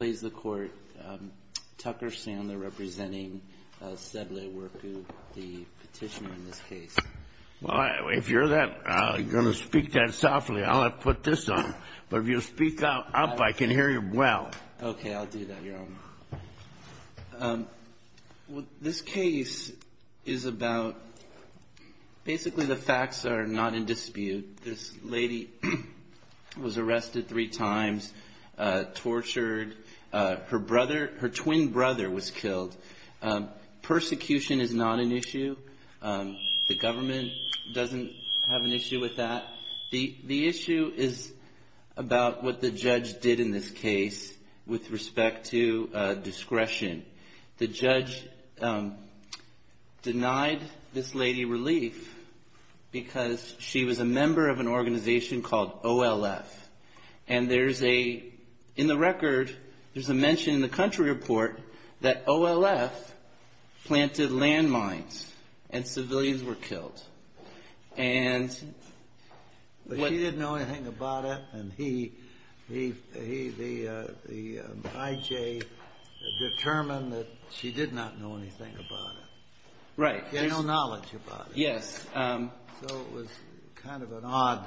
Tucker Sandler representing Sedle Warku, the petitioner in this case. Well, if you're going to speak that softly, I'll put this on. But if you speak up, I can hear you well. Okay, I'll do that, Your Honor. Well, this case is about, basically the facts are not in dispute. This lady was arrested three times, tortured. Her brother, her twin brother was killed. Persecution is not an issue. The government doesn't have an issue with that. The issue is about what the judge did in this case with respect to discretion. The judge denied this lady relief because she was a member of an organization called OLF. And there's a, in the record, there's a mention in the country report that OLF planted landmines and civilians were killed. But she didn't know anything about it, and he, the IJ, determined that she did not know anything about it. Right. He had no knowledge about it. Yes. So it was kind of an odd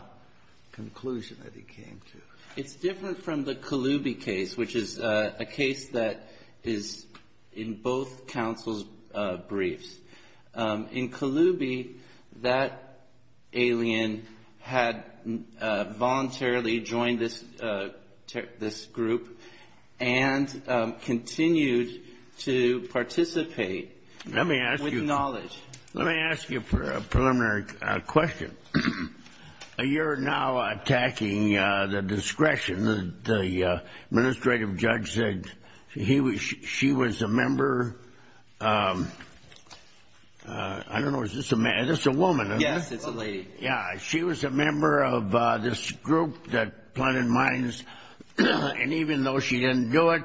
conclusion that he came to. It's different from the Colubi case, which is a case that is in both counsel's briefs. In Colubi, that alien had voluntarily joined this group and continued to participate with knowledge. Let me ask you a preliminary question. You're now attacking the discretion. The administrative judge said she was a member. I don't know. Is this a woman? Yes, it's a lady. Yeah. She was a member of this group that planted mines. And even though she didn't do it,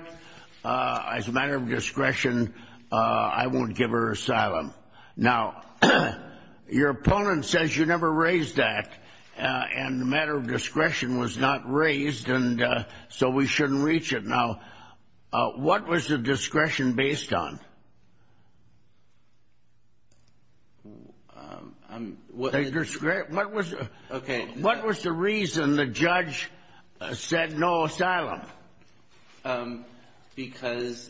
as a matter of discretion, I won't give her asylum. Now, your opponent says you never raised that, and the matter of discretion was not raised, and so we shouldn't reach it. Now, what was the discretion based on? What was the reason the judge said no asylum? Because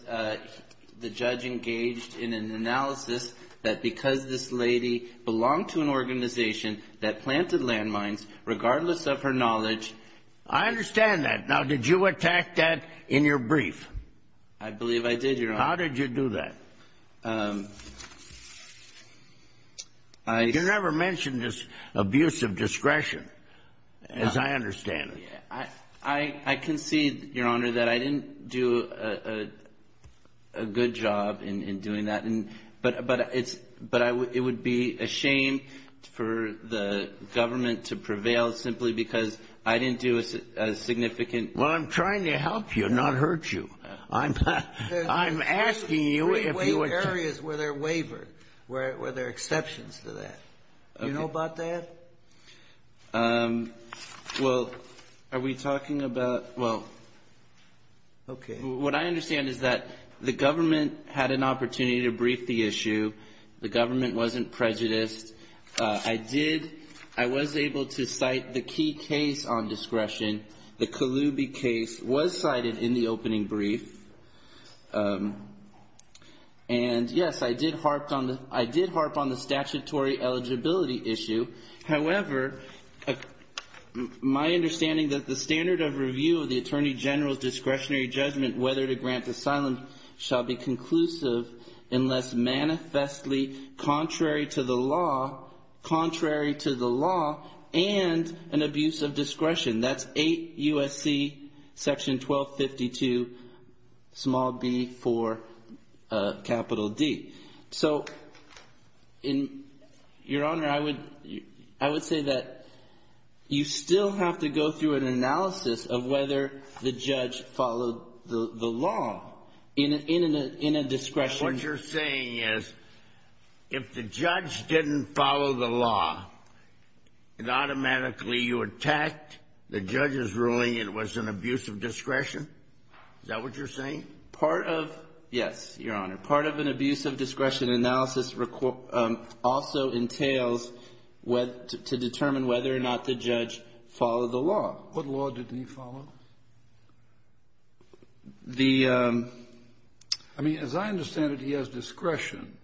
the judge engaged in an analysis that because this lady belonged to an organization that planted landmines, regardless of her knowledge. I understand that. Now, did you attack that in your brief? I believe I did, Your Honor. How did you do that? You never mentioned this abuse of discretion, as I understand it. I concede, Your Honor, that I didn't do a good job in doing that, but it would be a shame for the government to prevail simply because I didn't do a significant Well, I'm trying to help you, not hurt you. I'm asking you if you would There are three-way areas where they're wavered, where there are exceptions to that. Okay. Do you know about that? Well, are we talking about Well, what I understand is that the government had an opportunity to brief the issue. The government wasn't prejudiced. I was able to cite the key case on discretion. The Kaloubi case was cited in the opening brief, and, yes, I did harp on the statutory eligibility issue. However, my understanding that the standard of review of the Attorney General's discretionary judgment whether to grant asylum shall be conclusive unless manifestly contrary to the law and an abuse of discretion. That's 8 U.S.C. section 1252, small b, for capital D. So, Your Honor, I would say that you still have to go through an analysis of whether the judge followed the law in a discretion What you're saying is if the judge didn't follow the law, it automatically you attacked the judge's ruling it was an abuse of discretion? Is that what you're saying? Part of, yes, Your Honor. Part of an abuse of discretion analysis also entails to determine whether or not the judge followed the law. What law didn't he follow? I mean, as I understand it, he has discretion,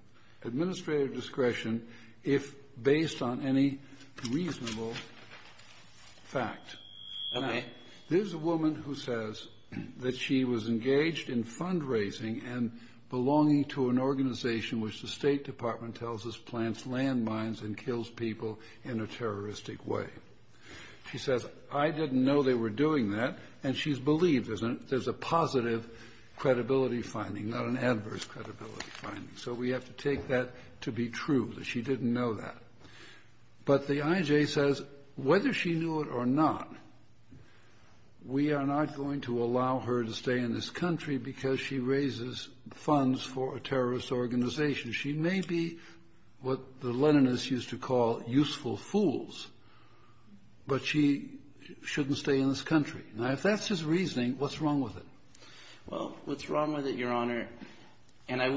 administrative discretion, if based on any reasonable fact. Okay. There's a woman who says that she was engaged in fundraising and belonging to an organization which the State Department tells us plants landmines and kills people in a terroristic way. She says, I didn't know they were doing that. And she's believed there's a positive credibility finding, not an adverse credibility finding. So we have to take that to be true, that she didn't know that. But the IJ says whether she knew it or not, we are not going to allow her to stay in this country because she raises funds for a terrorist organization. She may be what the Leninists used to call useful fools, but she shouldn't stay in this country. Now, if that's his reasoning, what's wrong with it? Well, what's wrong with it, Your Honor? And I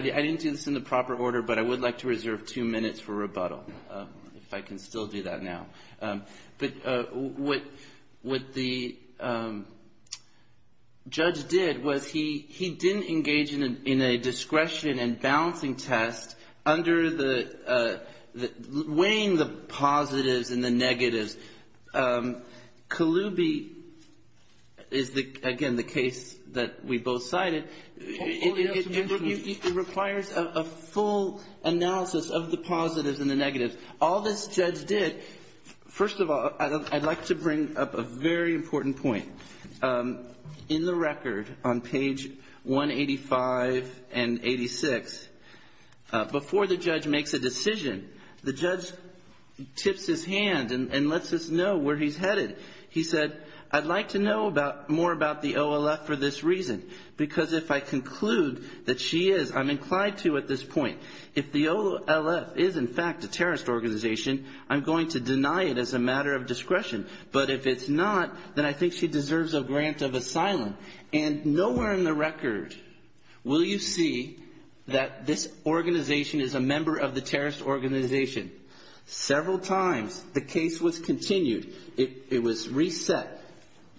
didn't do this in the proper order, but I would like to reserve two minutes for rebuttal, if I can still do that now. But what the judge did was he didn't engage in a discretion and balancing test under the weighing the positives and the negatives. Kaluubi is, again, the case that we both cited. It requires a full analysis of the positives and the negatives. All this judge did, first of all, I'd like to bring up a very important point. In the record on page 185 and 86, before the judge makes a decision, the judge tips his hand and lets us know where he's headed. He said, I'd like to know more about the OLF for this reason, because if I conclude that she is, I'm inclined to at this point. If the OLF is, in fact, a terrorist organization, I'm going to deny it as a matter of discretion. But if it's not, then I think she deserves a grant of asylum. And nowhere in the record will you see that this organization is a member of the terrorist organization. Several times the case was continued. It was reset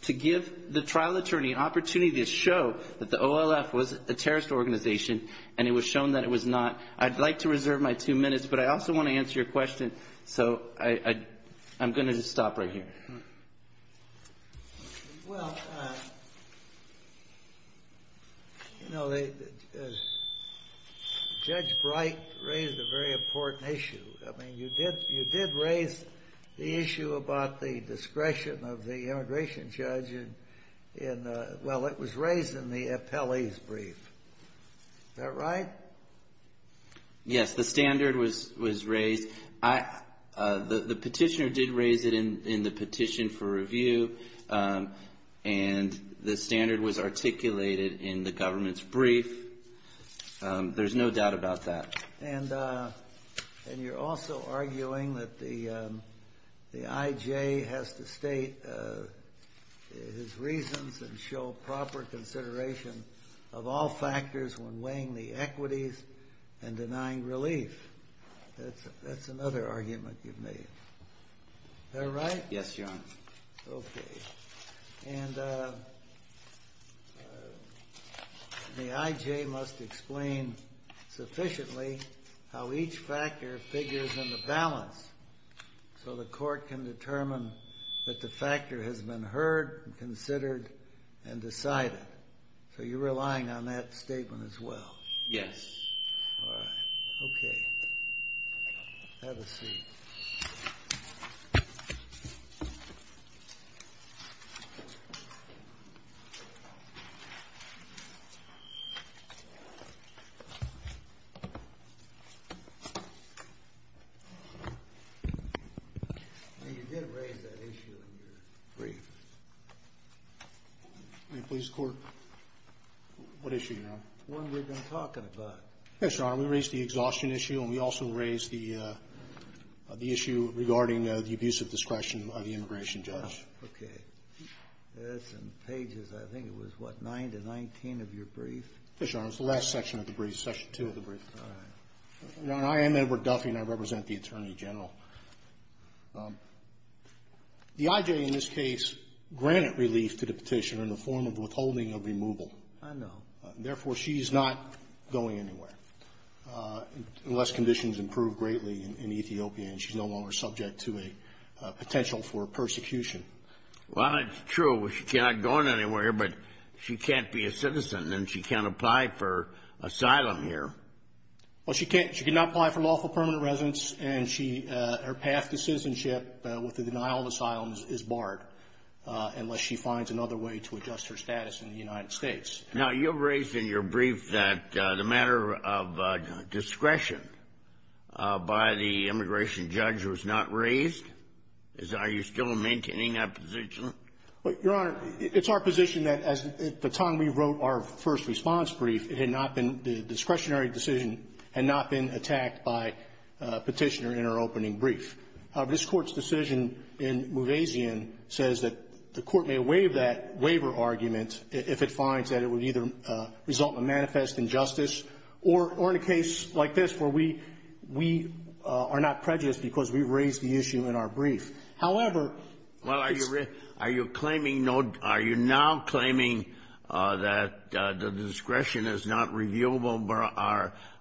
to give the trial attorney an opportunity to show that the OLF was a terrorist organization, and it was shown that it was not. I'd like to reserve my two minutes, but I also want to answer your question, so I'm going to just stop right here. Well, you know, Judge Bright raised a very important issue. I mean, you did raise the issue about the discretion of the immigration judge in the – well, it was raised in the appellee's brief. Is that right? Yes, the standard was raised. The petitioner did raise it in the petition for review, and the standard was articulated in the government's brief. There's no doubt about that. And you're also arguing that the IJ has to state his reasons and show proper consideration of all factors when weighing the equities and denying relief. That's another argument you've made. Is that right? Yes, Your Honor. Okay. And the IJ must explain sufficiently how each factor figures in the balance so the court can determine that the factor has been heard and considered and decided. So you're relying on that statement as well? Yes. All right. Okay. Have a seat. Thank you. You did raise that issue in your brief. May it please the Court? What issue, Your Honor? The one we've been talking about. Yes, Your Honor. We raised the exhaustion issue, and we also raised the issue regarding the abuse of discretion of the immigration judge. Okay. That's in pages, I think it was, what, 9 to 19 of your brief? Yes, Your Honor. It was the last section of the brief, section 2 of the brief. All right. Your Honor, I am Edward Duffy, and I represent the Attorney General. The IJ in this case granted relief to the petitioner in the form of withholding of removal. I know. Therefore, she's not going anywhere unless conditions improve greatly in Ethiopia, and she's no longer subject to a potential for persecution. Well, that's true. She's not going anywhere, but she can't be a citizen, and she can't apply for asylum here. Well, she can't. She cannot apply for lawful permanent residence, and her path to citizenship with the denial of asylum is barred unless she finds another way to adjust her status in the United States. Now, you raised in your brief that the matter of discretion by the immigration judge was not raised. Are you still maintaining that position? Well, Your Honor, it's our position that at the time we wrote our first response brief, it had not been the discretionary decision had not been attacked by a petitioner in our opening brief. This Court's decision in Muvazian says that the Court may waive that waiver argument if it finds that it would either result in a manifest injustice or in a case like this where we are not prejudiced because we raised the issue in our brief. However — Well, are you claiming no — are you now claiming that the discretion is not reviewable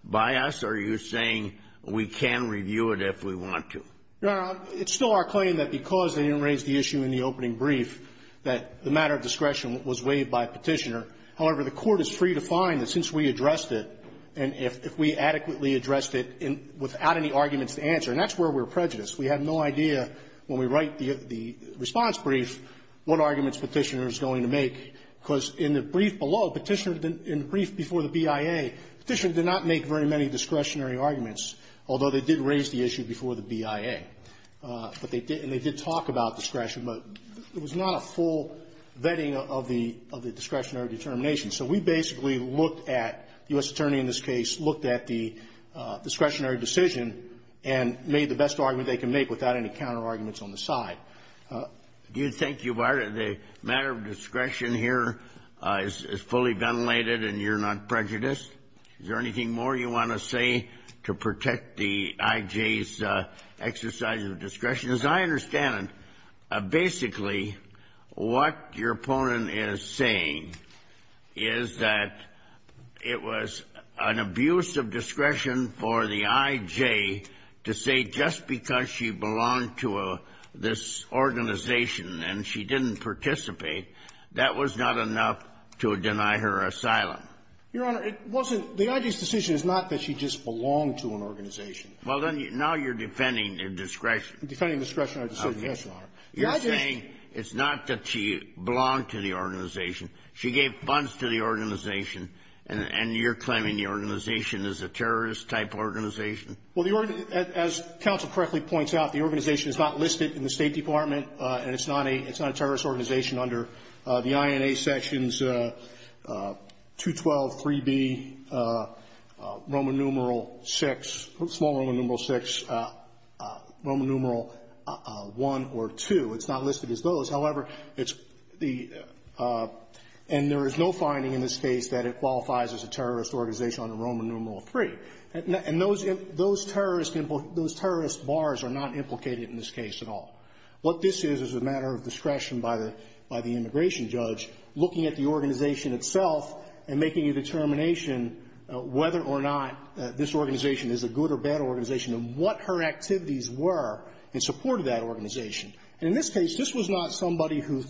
by us, or are you saying we can review it if we want to? Your Honor, it's still our claim that because they didn't raise the issue in the opening brief that the matter of discretion was waived by a petitioner. However, the Court is free to find that since we addressed it, and if we adequately addressed it without any arguments to answer, and that's where we're prejudiced. We have no idea when we write the response brief what arguments Petitioner is going to make, because in the brief below, Petitioner didn't — in the brief before the BIA, Petitioner did not make very many discretionary arguments, although they did raise the issue before the BIA. But they did — and they did talk about discretion, but it was not a full vetting of the — of the discretionary determination. So we basically looked at — the U.S. attorney in this case looked at the discretionary decision and made the best argument they could make without any counterarguments on the side. Do you think you are — the matter of discretion here is fully ventilated and you're not prejudiced? Is there anything more you want to say to protect the I.J.'s exercise of discretion? As I understand it, basically, what your opponent is saying is that it was an abuse of discretion for the I.J. to say just because she belonged to this organization and she didn't participate, that was not enough to deny her asylum. Your Honor, it wasn't — the I.J.'s decision is not that she just belonged to an organization. Well, then, now you're defending a discretion. Defending discretionary decision, yes, Your Honor. You're saying it's not that she belonged to the organization. She gave funds to the organization, and you're claiming the organization is a terrorist-type organization? Well, as counsel correctly points out, the organization is not listed in the State 12, 3B, Roman numeral 6, small Roman numeral 6, Roman numeral 1 or 2. It's not listed as those. However, it's the — and there is no finding in this case that it qualifies as a terrorist organization under Roman numeral 3. And those terrorist bars are not implicated in this case at all. What this is is a matter of discretion by the immigration judge looking at the organization itself and making a determination whether or not this organization is a good or bad organization and what her activities were in support of that organization. And in this case, this was not somebody who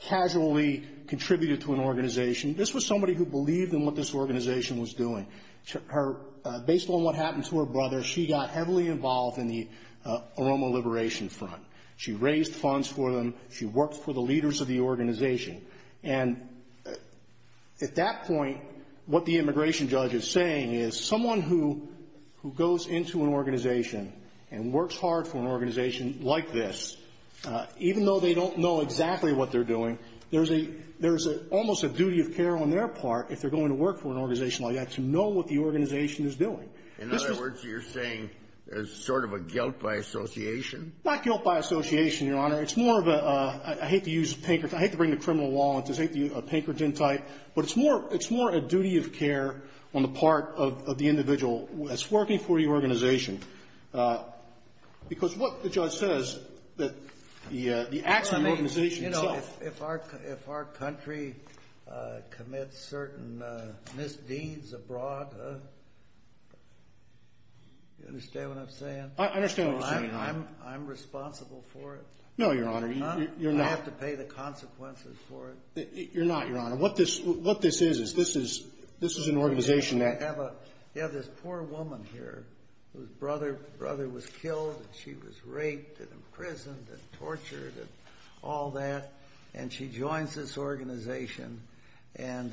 casually contributed to an organization. This was somebody who believed in what this organization was doing. Based on what happened to her brother, she got heavily involved in the Aroma Liberation Front. She raised funds for them. She worked for the leaders of the organization. And at that point, what the immigration judge is saying is someone who goes into an organization and works hard for an organization like this, even though they don't know exactly what they're doing, there's a — there's almost a duty of care on their part, if they're going to work for an organization like that, to know what the organization is doing. In other words, you're saying there's sort of a guilt by association? Not guilt by association, Your Honor. It's more of a — I hate to use — I hate to bring the criminal law into this. I hate to use a Pankerton type. But it's more a duty of care on the part of the individual that's working for the organization. Because what the judge says that the acts of the organization itself — Well, I mean, you know, if our country commits certain misdeeds abroad, you understand what I'm saying? I understand what you're saying, Your Honor. I'm responsible for it. No, Your Honor. You're not. I have to pay the consequences for it. You're not, Your Honor. What this is, is this is an organization that — You have this poor woman here whose brother was killed and she was raped and imprisoned and tortured and all that, and she joins this organization and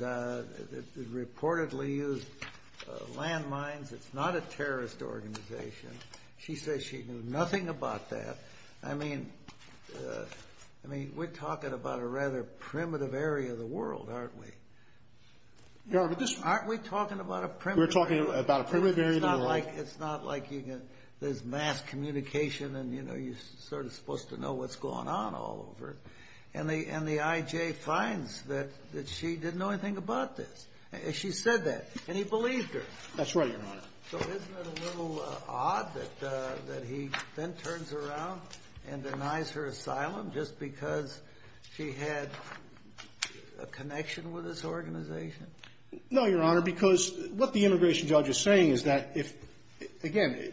reportedly used landmines. It's not a terrorist organization. She says she knew nothing about that. I mean — I mean, we're talking about a rather primitive area of the world, aren't we? Your Honor, but this — Aren't we talking about a primitive area of the world? We're talking about a primitive area of the world. It's not like you can — there's mass communication and, you know, you're sort of supposed to know what's going on all over. And the I.J. finds that she didn't know anything about this. She said that, and he believed her. That's right, Your Honor. So isn't it a little odd that he then turns around and denies her asylum just because she had a connection with this organization? No, Your Honor, because what the immigration judge is saying is that if — again,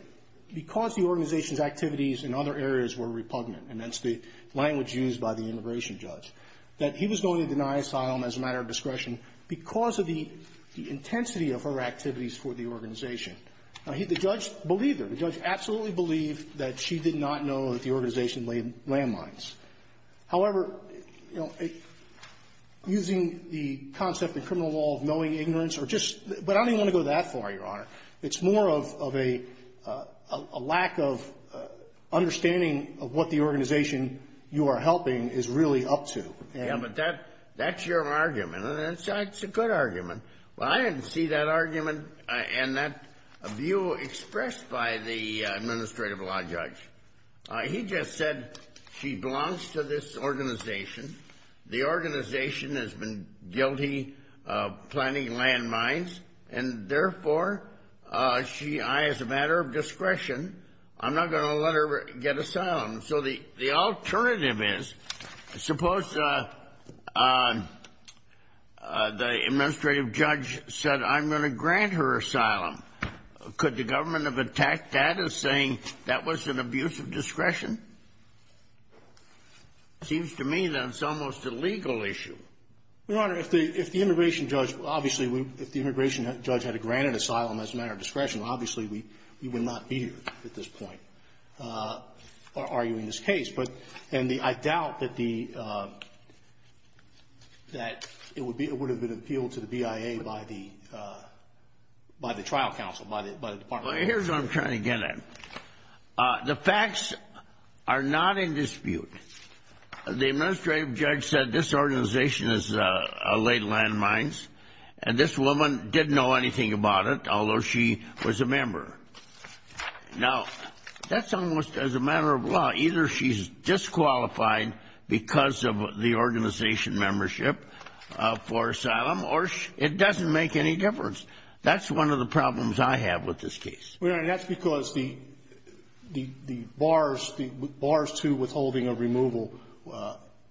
because the organization's activities in other areas were repugnant, and that's the language used by the immigration judge, that he was going to deny asylum as a matter of discretion because of the intensity of her activities for the organization. Now, he — the judge believed her. The judge absolutely believed that she did not know that the organization laid landmines. However, you know, using the concept in criminal law of knowing ignorance or just — but I don't even want to go that far, Your Honor. It's more of a lack of understanding of what the organization you are helping is really up to. Yeah, but that's your argument, and it's a good argument. Well, I didn't see that argument and that view expressed by the administrative law judge. He just said she belongs to this organization. The organization has been guilty of planting landmines, and therefore she — as a matter of discretion, I'm not going to let her get asylum. So the alternative is, suppose the administrative judge said, I'm going to grant her asylum. Could the government have attacked that as saying that was an abuse of discretion? It seems to me that it's almost a legal issue. Your Honor, if the immigration judge — obviously, if the immigration judge had granted asylum as a matter of discretion, obviously we would not be here at this point. Are you in this case? And I doubt that it would have been appealed to the BIA by the trial counsel, by the department. Here's what I'm trying to get at. The facts are not in dispute. The administrative judge said this organization has laid landmines, and this woman didn't know anything about it, although she was a member. Now, that's almost as a matter of law. Either she's disqualified because of the organization membership for asylum, or it doesn't make any difference. That's one of the problems I have with this case. Well, Your Honor, that's because the bars to withholding of removal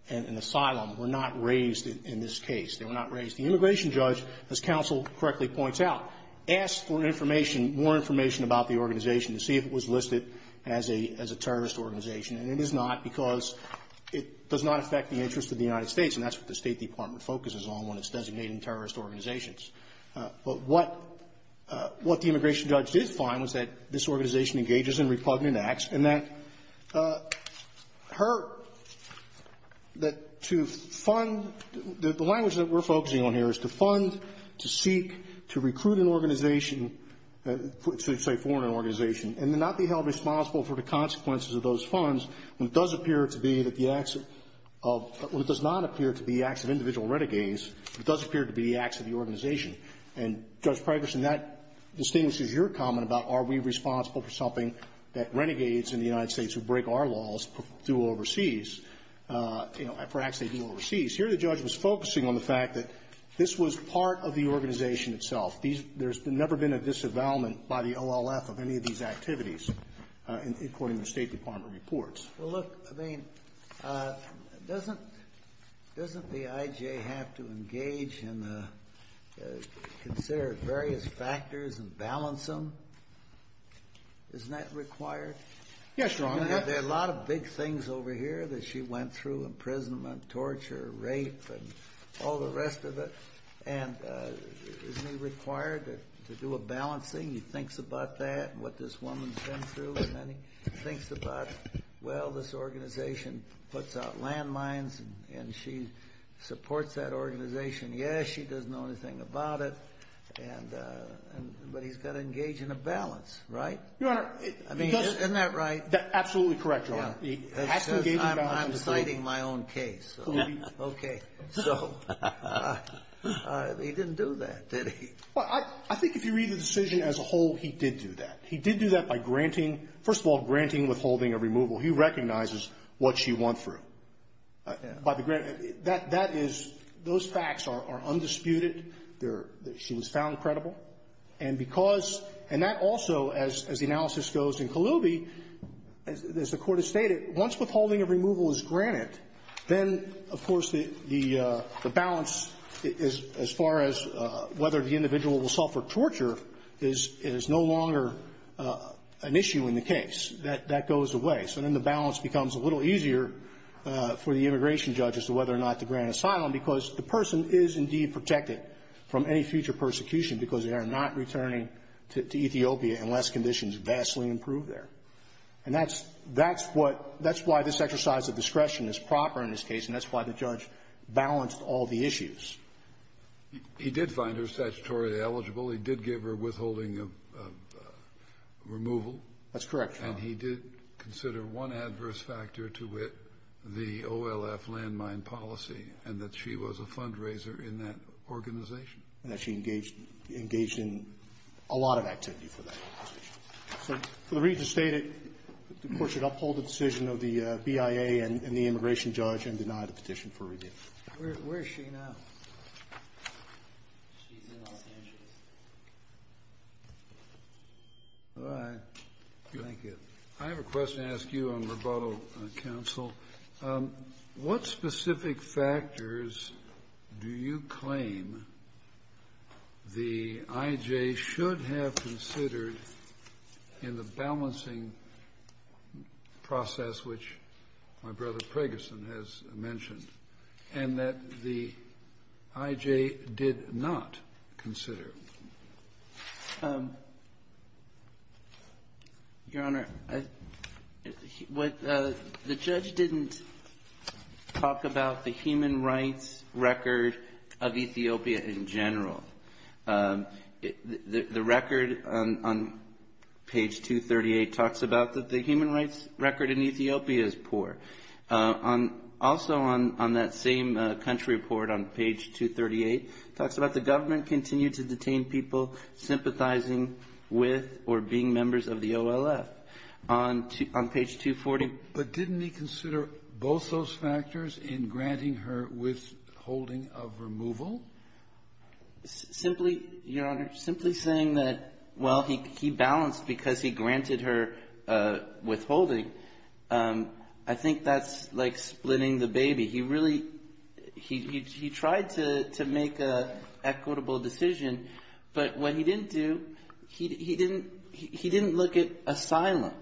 and asylum were not raised in this case. They were not raised. The immigration judge, as counsel correctly points out, asked for information, more information about the organization to see if it was listed as a terrorist organization, and it is not because it does not affect the interests of the United States, and that's what the State Department focuses on when it's designating terrorist organizations. But what the immigration judge did find was that this organization engages in repugnant acts, and that her – that to fund – the language that we're focusing on here is to fund, to seek, to recruit an organization, say, foreign organization, and to not be held responsible for the consequences of those funds when it does appear to be that the acts of – when it does not appear to be acts of individual renegades, it does appear to be acts of the organization. And, Judge Pregerson, that distinguishes your comment about are we responsible for something that renegades in the United States who break our laws do overseas. You know, perhaps they do overseas. Here the judge was focusing on the fact that this was part of the organization itself. These – there's never been a disavowalment by the OLF of any of these activities, according to State Department reports. Well, look, I mean, doesn't the IJ have to engage in the – consider various factors and balance them? Isn't that required? Yes, Your Honor. There are a lot of big things over here that she went through – imprisonment, torture, rape, and all the rest of it. And isn't he required to do a balancing? He thinks about that and what this woman's been through, and then he thinks about, well, this organization puts out landmines and she supports that organization. Yes, she doesn't know anything about it. And – but he's got to engage in a balance, right? Your Honor, it – I mean, isn't that right? Absolutely correct, Your Honor. He has to engage in balance. I'm citing my own case. Okay. So he didn't do that, did he? Well, I think if you read the decision as a whole, he did do that. He did do that by granting – first of all, granting withholding of removal. He recognizes what she went through. By the – that is – those facts are undisputed. They're – she was found credible. And because – and that also, as the analysis goes in Kalubi, as the Court has stated, once withholding of removal is granted, then, of course, the balance as far as whether the individual will suffer torture is no longer an issue in the case. That goes away. So then the balance becomes a little easier for the immigration judge as to whether or not to grant asylum, because the person is indeed protected from any future persecution because they are not returning to Ethiopia unless conditions vastly improve there. And that's – that's what – that's why this exercise of discretion is proper in this case, and that's why the judge balanced all the issues. He did find her statutorily eligible. He did give her withholding of removal. That's correct, Your Honor. And he did consider one adverse factor to it, the OLF landmine policy, and that she was a fundraiser in that organization. And that she engaged – engaged in a lot of activity for that organization. So for the reason stated, the Court should uphold the decision of the BIA and the immigration judge and deny the petition for review. Where is she now? She's in Los Angeles. All right. Thank you. I have a question to ask you on rebuttal, Counsel. What specific factors do you claim the IJ should have considered in the balancing process, which my brother Pragerson has mentioned, and that the IJ did not consider? Your Honor, what – the judge didn't talk about the human rights record of Ethiopia in general. The record on page 238 talks about that the human rights record in Ethiopia is poor. Also on that same country report on page 238 talks about the government continued to detain people sympathizing with or being members of the OLF. On page 240 – But didn't he consider both those factors in granting her withholding of removal? Simply, Your Honor, simply saying that, well, he balanced because he granted her withholding, I think that's like splitting the baby. He really – he tried to make an equitable decision, but what he didn't do, he didn't look at asylum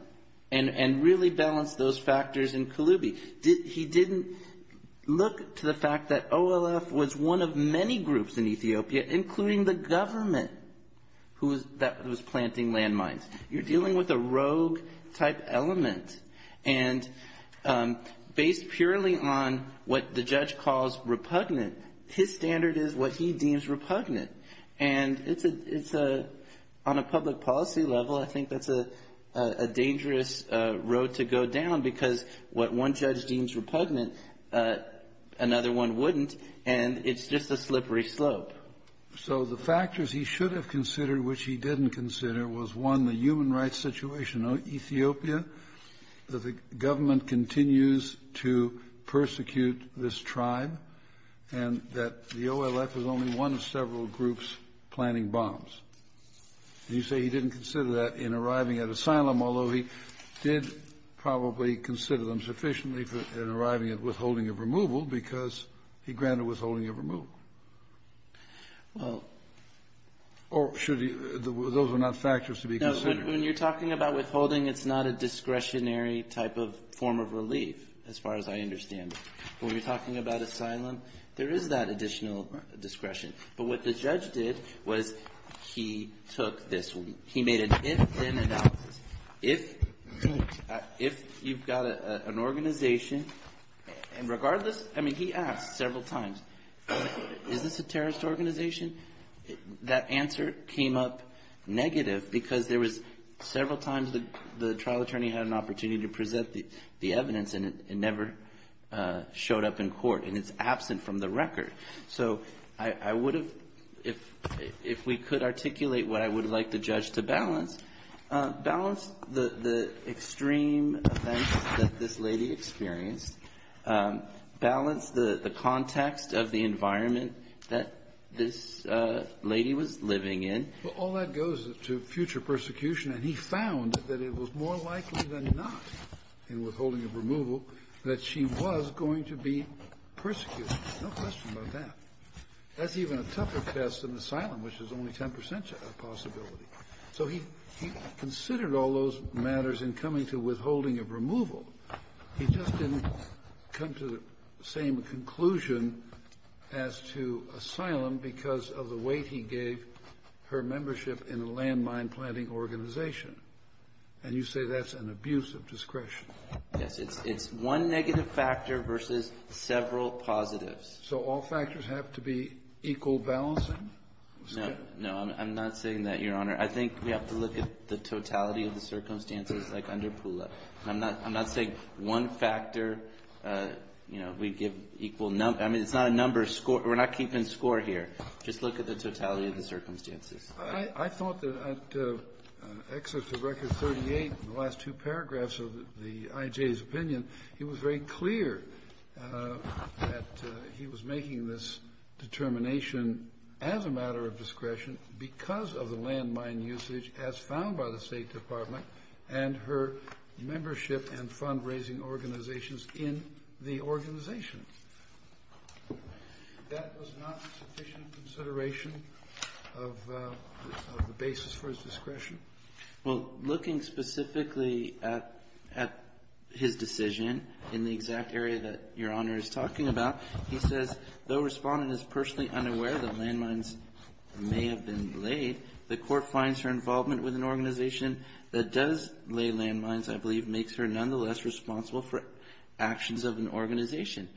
and really balanced those factors in Kulubi. He didn't look to the fact that OLF was one of many groups in Ethiopia, including the government that was planting landmines. You're dealing with a rogue-type element. And based purely on what the judge calls repugnant, his standard is what he deems repugnant. And it's a – on a public policy level, I think that's a dangerous road to go down because what one judge deems repugnant, another one wouldn't, and it's just a slippery slope. So the factors he should have considered which he didn't consider was, one, the human rights situation in Ethiopia, that the government continues to persecute this tribe, and that the OLF is only one of several groups planting bombs. And you say he didn't consider that in arriving at asylum, although he did probably consider them sufficiently in arriving at withholding of removal because he granted withholding of removal. Or should he – those are not factors to be considered. No. When you're talking about withholding, it's not a discretionary type of form of relief, as far as I understand it. When you're talking about asylum, there is that additional discretion. But what the judge did was he took this one. He made an if-then analysis. If you've got an organization – and regardless – I mean, he asked several times, is this a terrorist organization? That answer came up negative because there was – several times the trial attorney had an opportunity to present the evidence and it never showed up in court. And it's absent from the record. So I would have – if we could articulate what I would like the judge to balance, balance the extreme events that this lady experienced, balance the context of the environment that this lady was living in. All that goes to future persecution, and he found that it was more likely than not in withholding of removal that she was going to be persecuted. No question about that. That's even a tougher test than asylum, which is only 10 percent of the possibility. So he considered all those matters in coming to withholding of removal. He just didn't come to the same conclusion as to asylum because of the weight he gave her membership in a landmine-planting organization. And you say that's an abuse of discretion. Yes, it's one negative factor versus several positives. So all factors have to be equal balancing? No, I'm not saying that, Your Honor. I think we have to look at the totality of the circumstances like under Pula. I'm not saying one factor, you know, we give equal – I mean, it's not a number – we're not keeping score here. Just look at the totality of the circumstances. I thought that at excerpt of Record 38, the last two paragraphs of the IJ's opinion, he was very clear that he was making this determination as a matter of discretion because of the landmine usage as found by the State Department and her membership and fundraising organizations in the organization. That was not sufficient consideration of the basis for his discretion? Well, looking specifically at his decision in the exact area that Your Honor is talking about, he says, though Respondent is personally unaware that landmines may have been laid, the Court finds her involvement with an organization that does lay landmines, I believe, makes her nonetheless responsible for actions of an organization.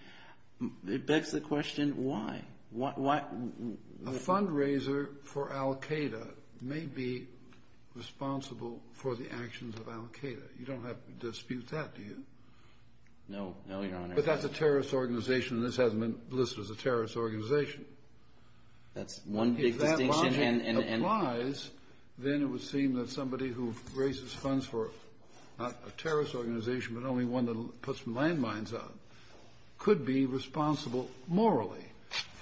It begs the question, why? A fundraiser for Al-Qaeda may be responsible for the actions of Al-Qaeda. You don't have to dispute that, do you? No, Your Honor. But that's a terrorist organization, and this hasn't been listed as a terrorist organization. That's one big distinction. If that logic applies, then it would seem that somebody who raises funds for not a terrorist organization but only one that puts landmines up could be responsible morally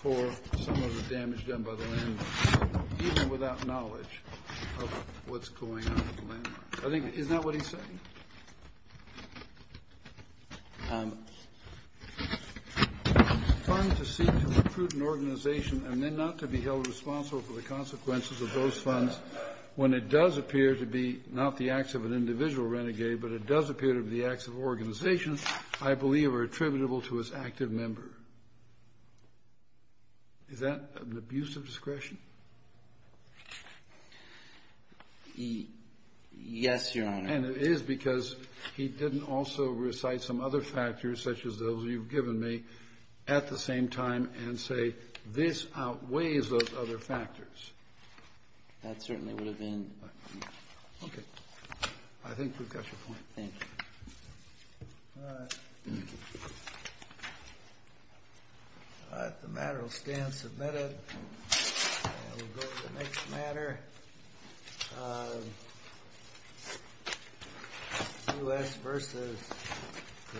for some of the damage done by the landmines even without knowledge of what's going on with the landmines. Isn't that what he's saying? Funds to seek to recruit an organization and then not to be held responsible for the consequences of those funds when it does appear to be not the acts of an individual renegade but it does appear to be the acts of an organization I believe are attributable to its active member. Is that an abuse of discretion? Yes, Your Honor. And it is because he didn't also recite some other factors such as those you've given me at the same time and say this outweighs those other factors. That certainly would have been... Okay. I think we've got your point. Thank you. All right. All right, the matter will stand submitted. And we'll go to the next matter. U.S. versus the Sonics. The Court is adjourned.